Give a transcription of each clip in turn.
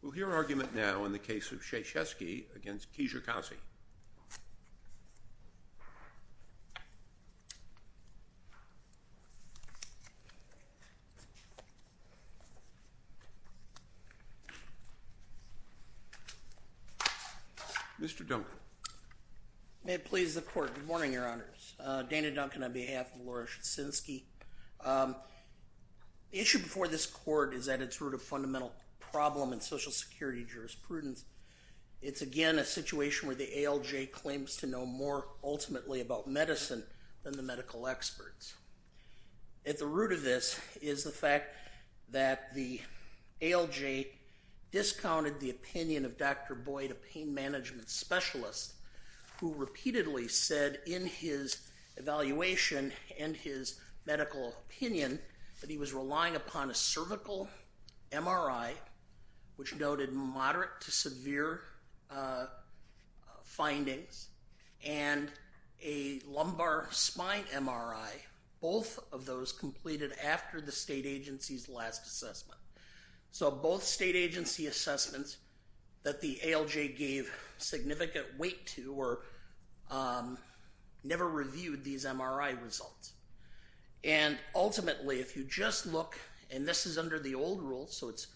We'll hear argument now in the case of Cieszynski v. Kijakazi. Mr. Duncan. May it please the Court. Good morning, Your Honors. Dana Duncan on behalf of Lora Cieszynski. The issue before this Court is at its root a fundamental problem in Social Security jurisprudence. It's again a situation where the ALJ claims to know more ultimately about medicine than the medical experts. At the root of this is the fact that the ALJ discounted the opinion of Dr. Boyd, a pain management specialist, who repeatedly said in his evaluation and his medical opinion that he was relying upon a cervical MRI, which noted moderate to severe findings, and a lumbar spine MRI, both of those completed after the state agency's last assessment. So both state agency assessments that the ALJ gave significant weight to never reviewed these MRI results. And ultimately, if you just look, and this is under the old rule, so it's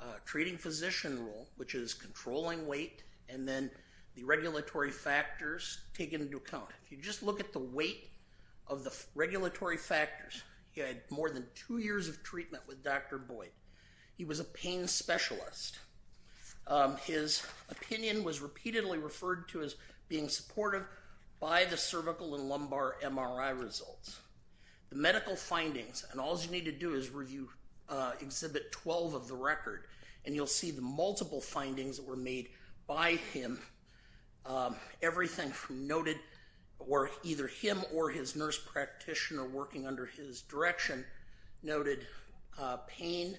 a treating physician rule, which is controlling weight and then the regulatory factors taken into account. If you just look at the weight of the regulatory factors, he had more than two years of treatment with Dr. Boyd. He was a pain specialist. His opinion was repeatedly referred to as being supportive by the cervical and lumbar MRI results. The medical findings, and all you need to do is review Exhibit 12 of the record, and you'll see the multiple findings that were made by him. Everything noted were either him or his nurse practitioner working under his direction noted pain,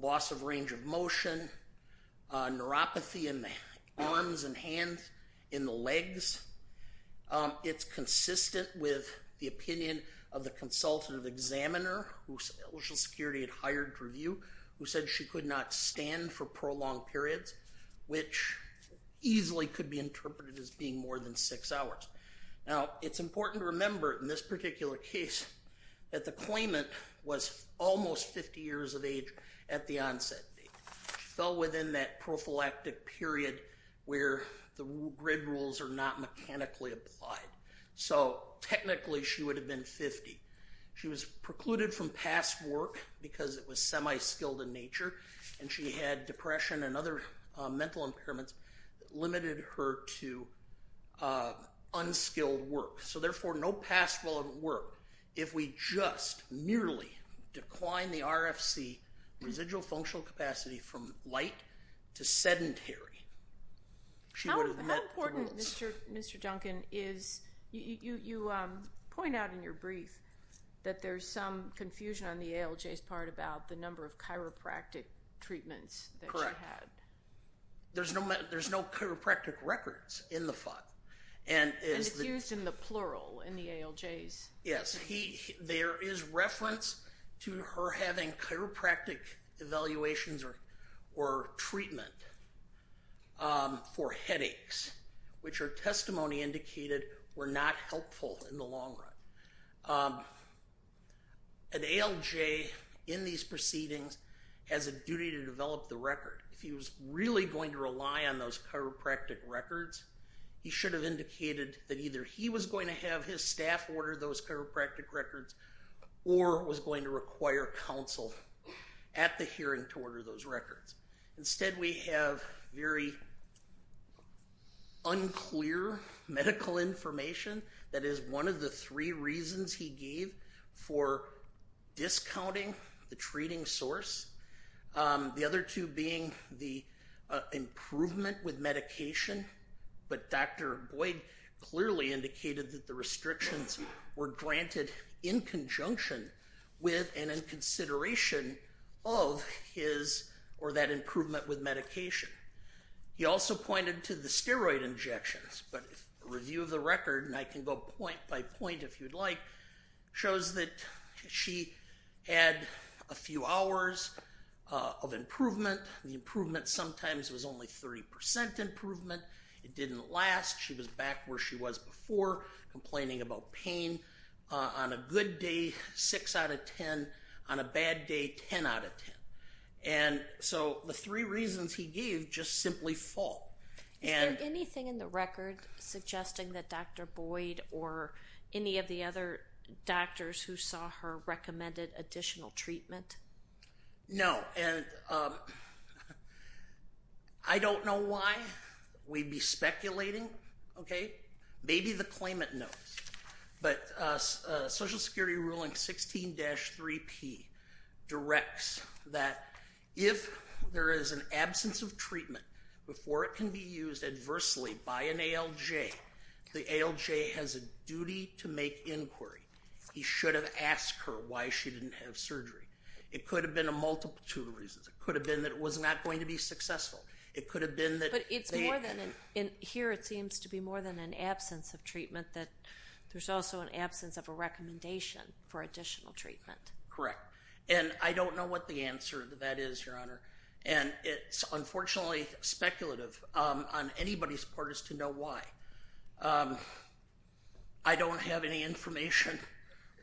loss of range of motion, neuropathy in the arms and hands, in the legs. It's consistent with the opinion of the consultative examiner who Social Security had hired to review, who said she could not stand for prolonged periods, which easily could be interpreted as being more than six hours. Now, it's important to remember in this particular case that the claimant was almost 50 years of age at the onset. She fell within that prophylactic period where the grid rules are not mechanically applied. So technically, she would have been 50. She was precluded from past work because it was semi-skilled in nature, and she had depression and other mental impairments that limited her to unskilled work. So therefore, no past relevant work. If we just merely decline the RFC, residual functional capacity, from light to sedentary, she would have met the rules. How important, Mr. Duncan, is, you point out in your brief that there's some confusion on the ALJ's part about the number of chiropractic treatments that you had. Correct. There's no chiropractic records in the file. And it's used in the plural in the ALJs. Yes. There is reference to her having chiropractic evaluations or treatment for headaches, which her testimony indicated were not helpful in the long run. An ALJ in these proceedings has a duty to develop the record. If he was really going to rely on those chiropractic records, he should have indicated that either he was going to have his staff order those chiropractic records or was going to require counsel at the hearing to order those records. Instead, we have very unclear medical information. That is one of the three reasons he gave for discounting the treating source, the other two being the improvement with medication. But Dr. Boyd clearly indicated that the restrictions were granted in conjunction with and in consideration of his or that improvement with medication. He also pointed to the steroid injections. But a review of the record, and I can go point by point if you'd like, shows that she had a few hours of improvement. The improvement sometimes was only 30 percent improvement. It didn't last. She was back where she was before, complaining about pain on a good day six out of ten, on a bad day ten out of ten. And so the three reasons he gave just simply fall. Is there anything in the record suggesting that Dr. Boyd or any of the other doctors who saw her recommended additional treatment? No, and I don't know why. We'd be speculating, okay? Maybe the claimant knows. But Social Security Ruling 16-3P directs that if there is an absence of treatment before it can be used adversely by an ALJ, the ALJ has a duty to make inquiry. He should have asked her why she didn't have surgery. It could have been a multiple of two reasons. It could have been that it was not going to be successful. It could have been that they hadn't. But here it seems to be more than an absence of treatment, that there's also an absence of a recommendation for additional treatment. Correct. And I don't know what the answer to that is, Your Honor. And it's unfortunately speculative on anybody's part as to know why. I don't have any information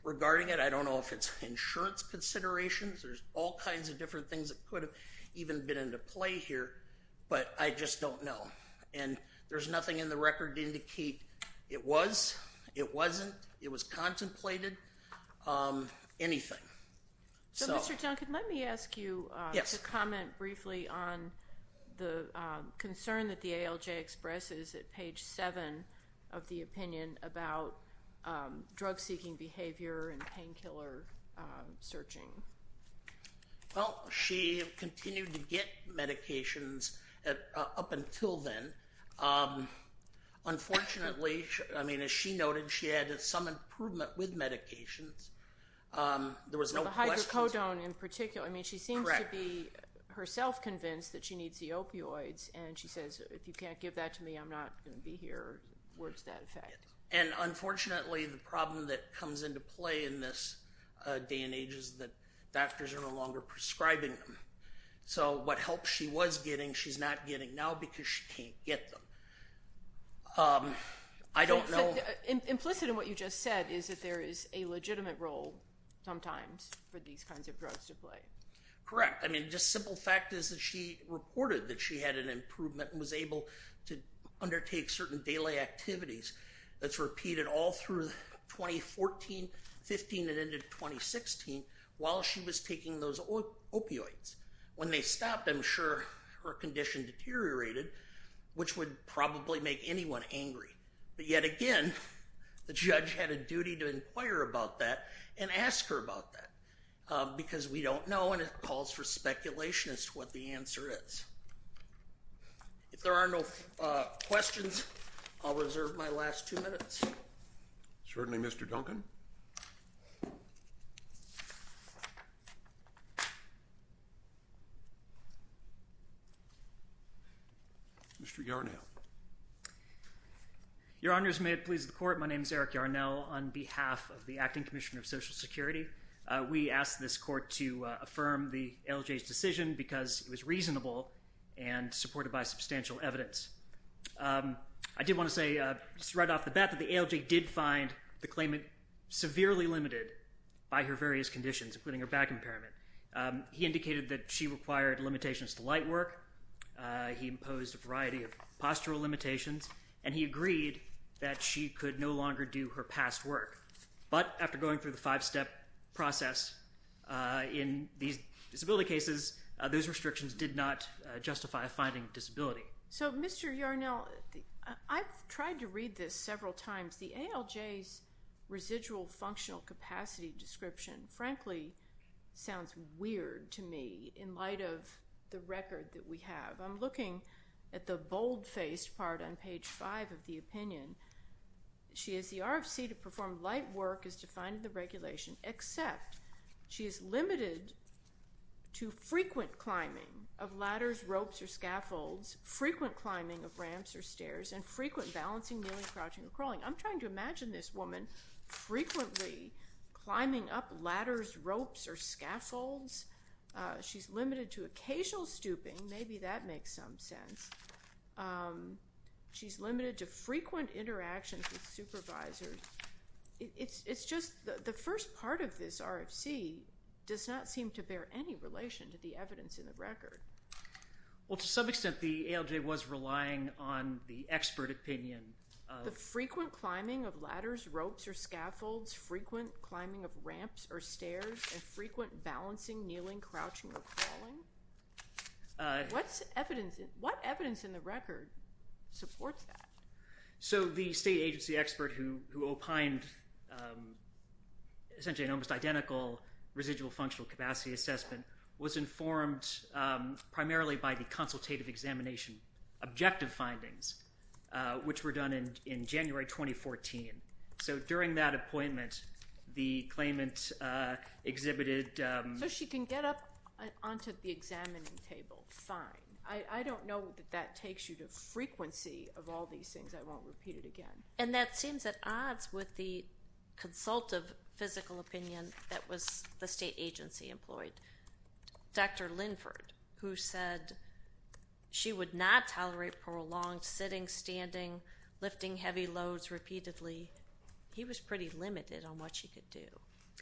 regarding it. I don't know if it's insurance considerations. There's all kinds of different things that could have even been into play here. But I just don't know. And there's nothing in the record to indicate it was, it wasn't, it was contemplated, anything. So, Mr. Duncan, let me ask you to comment briefly on the concern that the ALJ expresses at page 7 of the opinion about drug-seeking behavior and painkiller searching. Well, she continued to get medications up until then. Unfortunately, I mean, as she noted, she had some improvement with medications. There was no questions. The hydrocodone in particular. I mean, she seems to be herself convinced that she needs the opioids. And she says, if you can't give that to me, I'm not going to be here. Where's that effect? And unfortunately, the problem that comes into play in this day and age is that doctors are no longer prescribing them. So what help she was getting, she's not getting now because she can't get them. I don't know. Implicit in what you just said is that there is a legitimate role sometimes for these kinds of drugs to play. Correct. I mean, just simple fact is that she reported that she had an improvement and was able to undertake certain daily activities that's repeated all through 2014-15 and ended 2016 while she was taking those opioids. When they stopped, I'm sure her condition deteriorated, which would probably make anyone angry. But yet again, the judge had a duty to inquire about that and ask her about that. Because we don't know, and it calls for speculation as to what the answer is. If there are no questions, I'll reserve my last two minutes. Certainly, Mr. Duncan. Mr. Yarnell. Your Honors, may it please the Court, my name is Eric Yarnell. On behalf of the Acting Commissioner of Social Security, we ask this Court to affirm the LJ's decision because it was reasonable and supported by substantial evidence. I did want to say right off the bat that the ALJ did find the claimant severely limited by her various conditions, including her back impairment. He indicated that she required limitations to light work. He imposed a variety of postural limitations. And he agreed that she could no longer do her past work. But after going through the five-step process in these disability cases, those restrictions did not justify finding disability. So, Mr. Yarnell, I've tried to read this several times. The ALJ's residual functional capacity description, frankly, sounds weird to me in light of the record that we have. I'm looking at the bold-faced part on page five of the opinion. She has the RFC to perform light work as defined in the regulation, except she is limited to frequent climbing of ladders, ropes, or scaffolds, frequent climbing of ramps or stairs, and frequent balancing, kneeling, crouching, or crawling. I'm trying to imagine this woman frequently climbing up ladders, ropes, or scaffolds. She's limited to occasional stooping. Maybe that makes some sense. She's limited to frequent interactions with supervisors. It's just the first part of this RFC does not seem to bear any relation to the evidence in the record. Well, to some extent, the ALJ was relying on the expert opinion. The frequent climbing of ladders, ropes, or scaffolds, frequent climbing of ramps or stairs, and frequent balancing, kneeling, crouching, or crawling? What evidence in the record supports that? So the state agency expert who opined essentially an almost identical residual functional capacity assessment was informed primarily by the consultative examination objective findings, which were done in January 2014. So during that appointment, the claimant exhibited... So she can get up onto the examining table, fine. I don't know that that takes you to frequency of all these things. I won't repeat it again. And that seems at odds with the consultative physical opinion that was the state agency employed. Dr. Linford, who said she would not tolerate prolonged sitting, standing, lifting heavy loads repeatedly, he was pretty limited on what she could do.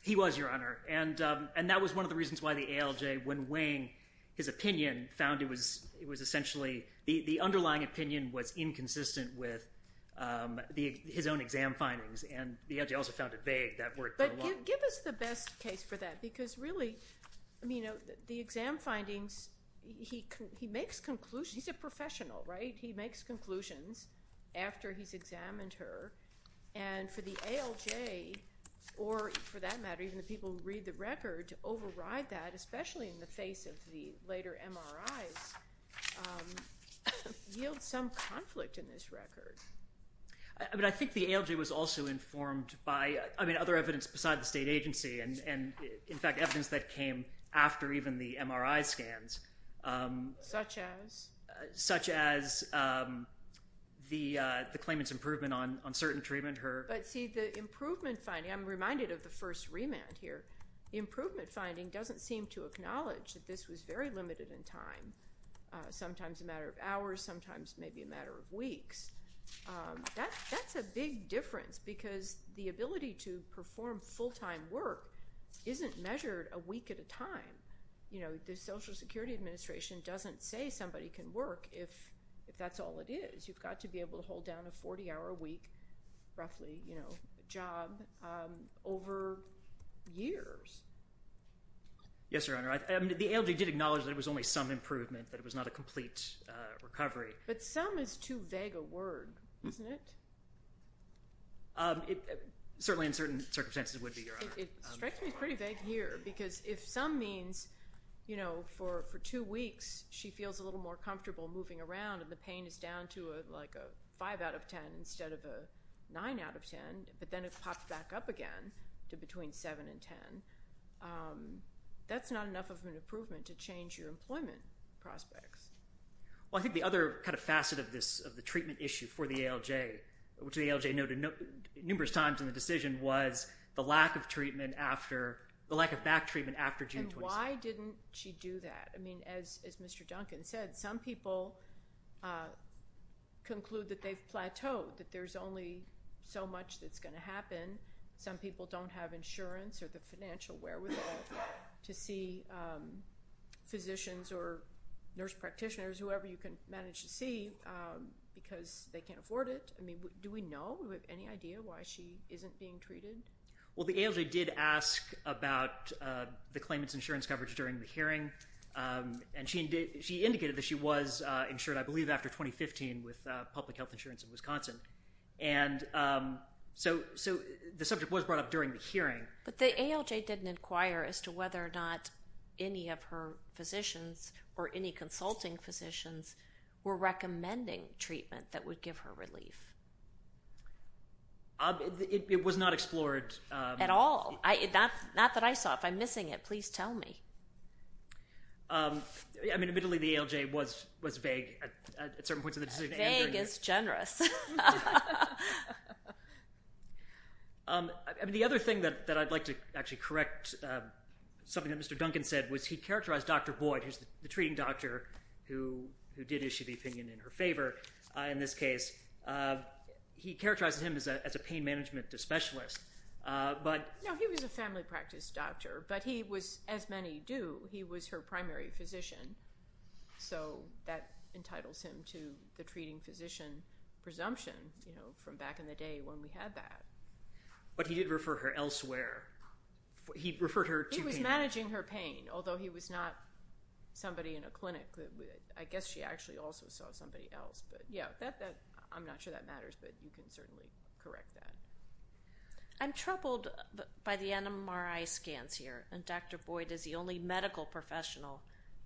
He was, Your Honor. And that was one of the reasons why the ALJ, when weighing his opinion, found it was essentially the underlying opinion was inconsistent with his own exam findings. And the ALJ also found it vague that were prolonged. But give us the best case for that, because really the exam findings, he makes conclusions. He's a professional, right? He makes conclusions after he's examined her. And for the ALJ, or for that matter, even the people who read the record, to override that, especially in the face of the later MRIs, yields some conflict in this record. I think the ALJ was also informed by other evidence beside the state agency, and in fact evidence that came after even the MRI scans. Such as? The claimant's improvement on certain treatment. But see, the improvement finding, I'm reminded of the first remand here, the improvement finding doesn't seem to acknowledge that this was very limited in time, sometimes a matter of hours, sometimes maybe a matter of weeks. That's a big difference, because the ability to perform full-time work isn't measured a week at a time. The Social Security Administration doesn't say somebody can work if that's all it is. You've got to be able to hold down a 40-hour a week, roughly, job over years. Yes, Your Honor. The ALJ did acknowledge that it was only some improvement, that it was not a complete recovery. But some is too vague a word, isn't it? Certainly in certain circumstances it would be, Your Honor. It strikes me as pretty vague here, because if some means for two weeks she feels a little more comfortable moving around and the pain is down to like a 5 out of 10 instead of a 9 out of 10, but then it pops back up again to between 7 and 10, that's not enough of an improvement to change your employment prospects. Well, I think the other kind of facet of the treatment issue for the ALJ, which the ALJ noted numerous times in the decision, was the lack of back treatment after June 27. And why didn't she do that? I mean, as Mr. Duncan said, some people conclude that they've plateaued, that there's only so much that's going to happen. Some people don't have insurance or the financial wherewithal to see physicians or nurse practitioners, whoever you can manage to see, because they can't afford it. I mean, do we know, do we have any idea why she isn't being treated? Well, the ALJ did ask about the claimant's insurance coverage during the hearing, and she indicated that she was insured, I believe, after 2015 with public health insurance in Wisconsin. And so the subject was brought up during the hearing. But the ALJ didn't inquire as to whether or not any of her physicians or any consulting physicians were recommending treatment that would give her relief. It was not explored. At all. Not that I saw. If I'm missing it, please tell me. I mean, admittedly, the ALJ was vague at certain points in the decision. Vague is generous. I mean, the other thing that I'd like to actually correct, something that Mr. Duncan said, was he characterized Dr. Boyd, who's the treating doctor who did issue the opinion in her favor in this case, he characterized him as a pain management specialist. No, he was a family practice doctor, but he was, as many do, he was her primary physician. So that entitles him to the treating physician presumption from back in the day when we had that. But he did refer her elsewhere. He referred her to him. He was managing her pain, although he was not somebody in a clinic. I guess she actually also saw somebody else. I'm not sure that matters, but you can certainly correct that. I'm troubled by the MRI scans here. And Dr. Boyd is the only medical professional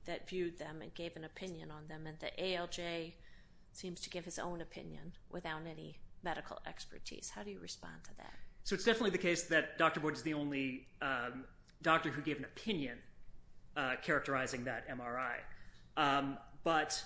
that viewed them and gave an opinion on them. And the ALJ seems to give his own opinion without any medical expertise. How do you respond to that? So it's definitely the case that Dr. Boyd is the only doctor who gave an opinion characterizing that MRI. But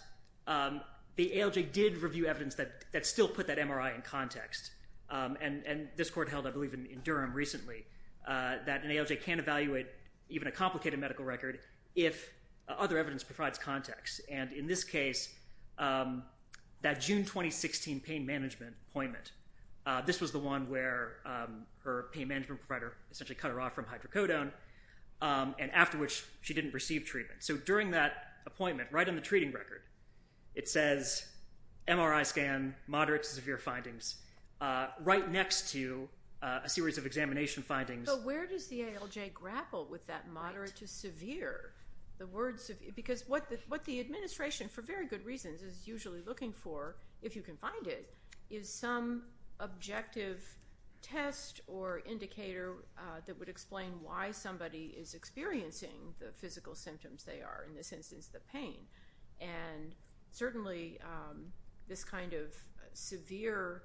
the ALJ did review evidence that still put that MRI in context. And this court held, I believe, in Durham recently that an ALJ can't evaluate even a complicated medical record if other evidence provides context. And in this case, that June 2016 pain management appointment, this was the one where her pain management provider essentially cut her off from hydrocodone, and after which she didn't receive treatment. So during that appointment, right on the treating record, it says MRI scan, moderate to severe findings, right next to a series of examination findings. But where does the ALJ grapple with that moderate to severe? Because what the administration, for very good reasons, is usually looking for, if you can find it, is some objective test or indicator that would explain why somebody is experiencing the physical symptoms they are, in this instance the pain. And certainly this kind of severe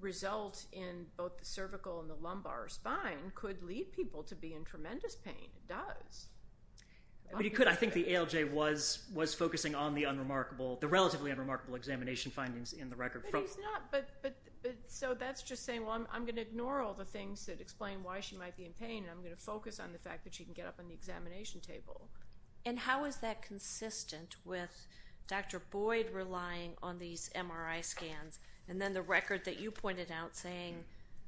result in both the cervical and the lumbar spine could lead people to be in tremendous pain. It does. I think the ALJ was focusing on the relatively unremarkable examination findings in the record. So that's just saying, well, I'm going to ignore all the things that explain why she might be in pain, and I'm going to focus on the fact that she can get up on the examination table. And how is that consistent with Dr. Boyd relying on these MRI scans, and then the record that you pointed out saying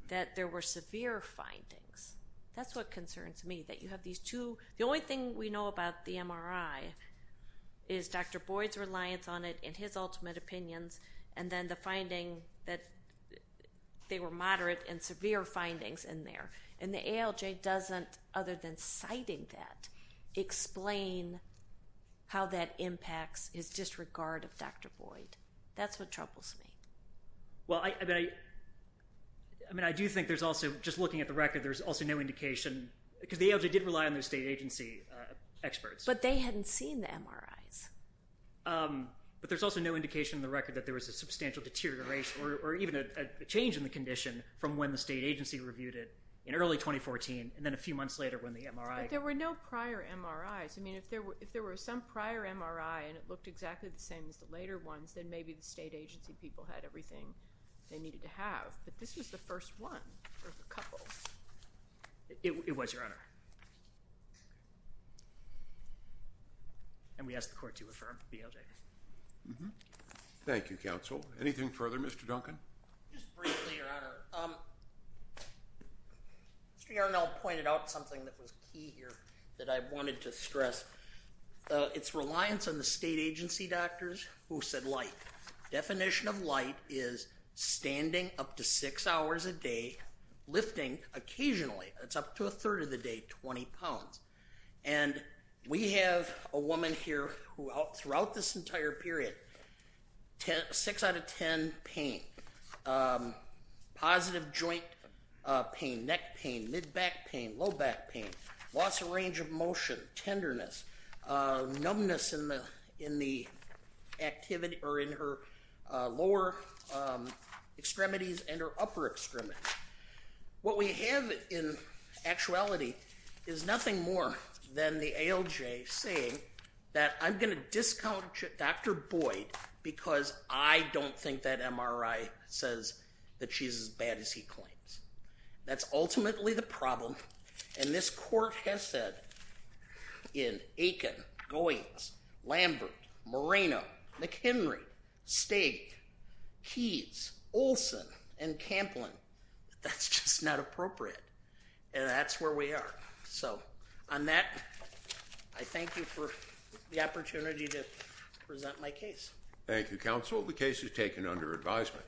that there were severe findings? That's what concerns me, that you have these two. The only thing we know about the MRI is Dr. Boyd's reliance on it and his ultimate opinions, and then the finding that they were moderate and severe findings in there. And the ALJ doesn't, other than citing that, explain how that impacts his disregard of Dr. Boyd. That's what troubles me. Well, I do think there's also, just looking at the record, there's also no indication, because the ALJ did rely on those state agency experts. But they hadn't seen the MRIs. But there's also no indication in the record that there was a substantial deterioration or even a change in the condition from when the state agency reviewed it in early 2014 and then a few months later when the MRI. But there were no prior MRIs. I mean, if there were some prior MRI and it looked exactly the same as the later ones, then maybe the state agency people had everything they needed to have. But this was the first one, or the couple. It was, Your Honor. And we ask the Court to affirm the ALJ. Thank you, Counsel. Anything further, Mr. Duncan? Just briefly, Your Honor. Mr. Yarnell pointed out something that was key here that I wanted to stress. It's reliance on the state agency doctors who said light. Definition of light is standing up to six hours a day, lifting occasionally. It's up to a third of the day, 20 pounds. And we have a woman here who throughout this entire period, six out of ten pain, positive joint pain, neck pain, mid-back pain, low-back pain, loss of range of motion, tenderness, numbness in her lower extremities and her upper extremities. What we have in actuality is nothing more than the ALJ saying that I'm going to discount Dr. Boyd because I don't think that MRI says that she's as bad as he claims. That's ultimately the problem. And this Court has said in Aiken, Goins, Lambert, Moreno, McHenry, Stig, Keyes, Olson, and Camplin that that's just not appropriate. And that's where we are. So, on that, I thank you for the opportunity to present my case. Thank you, Counsel. The case is taken under advisement.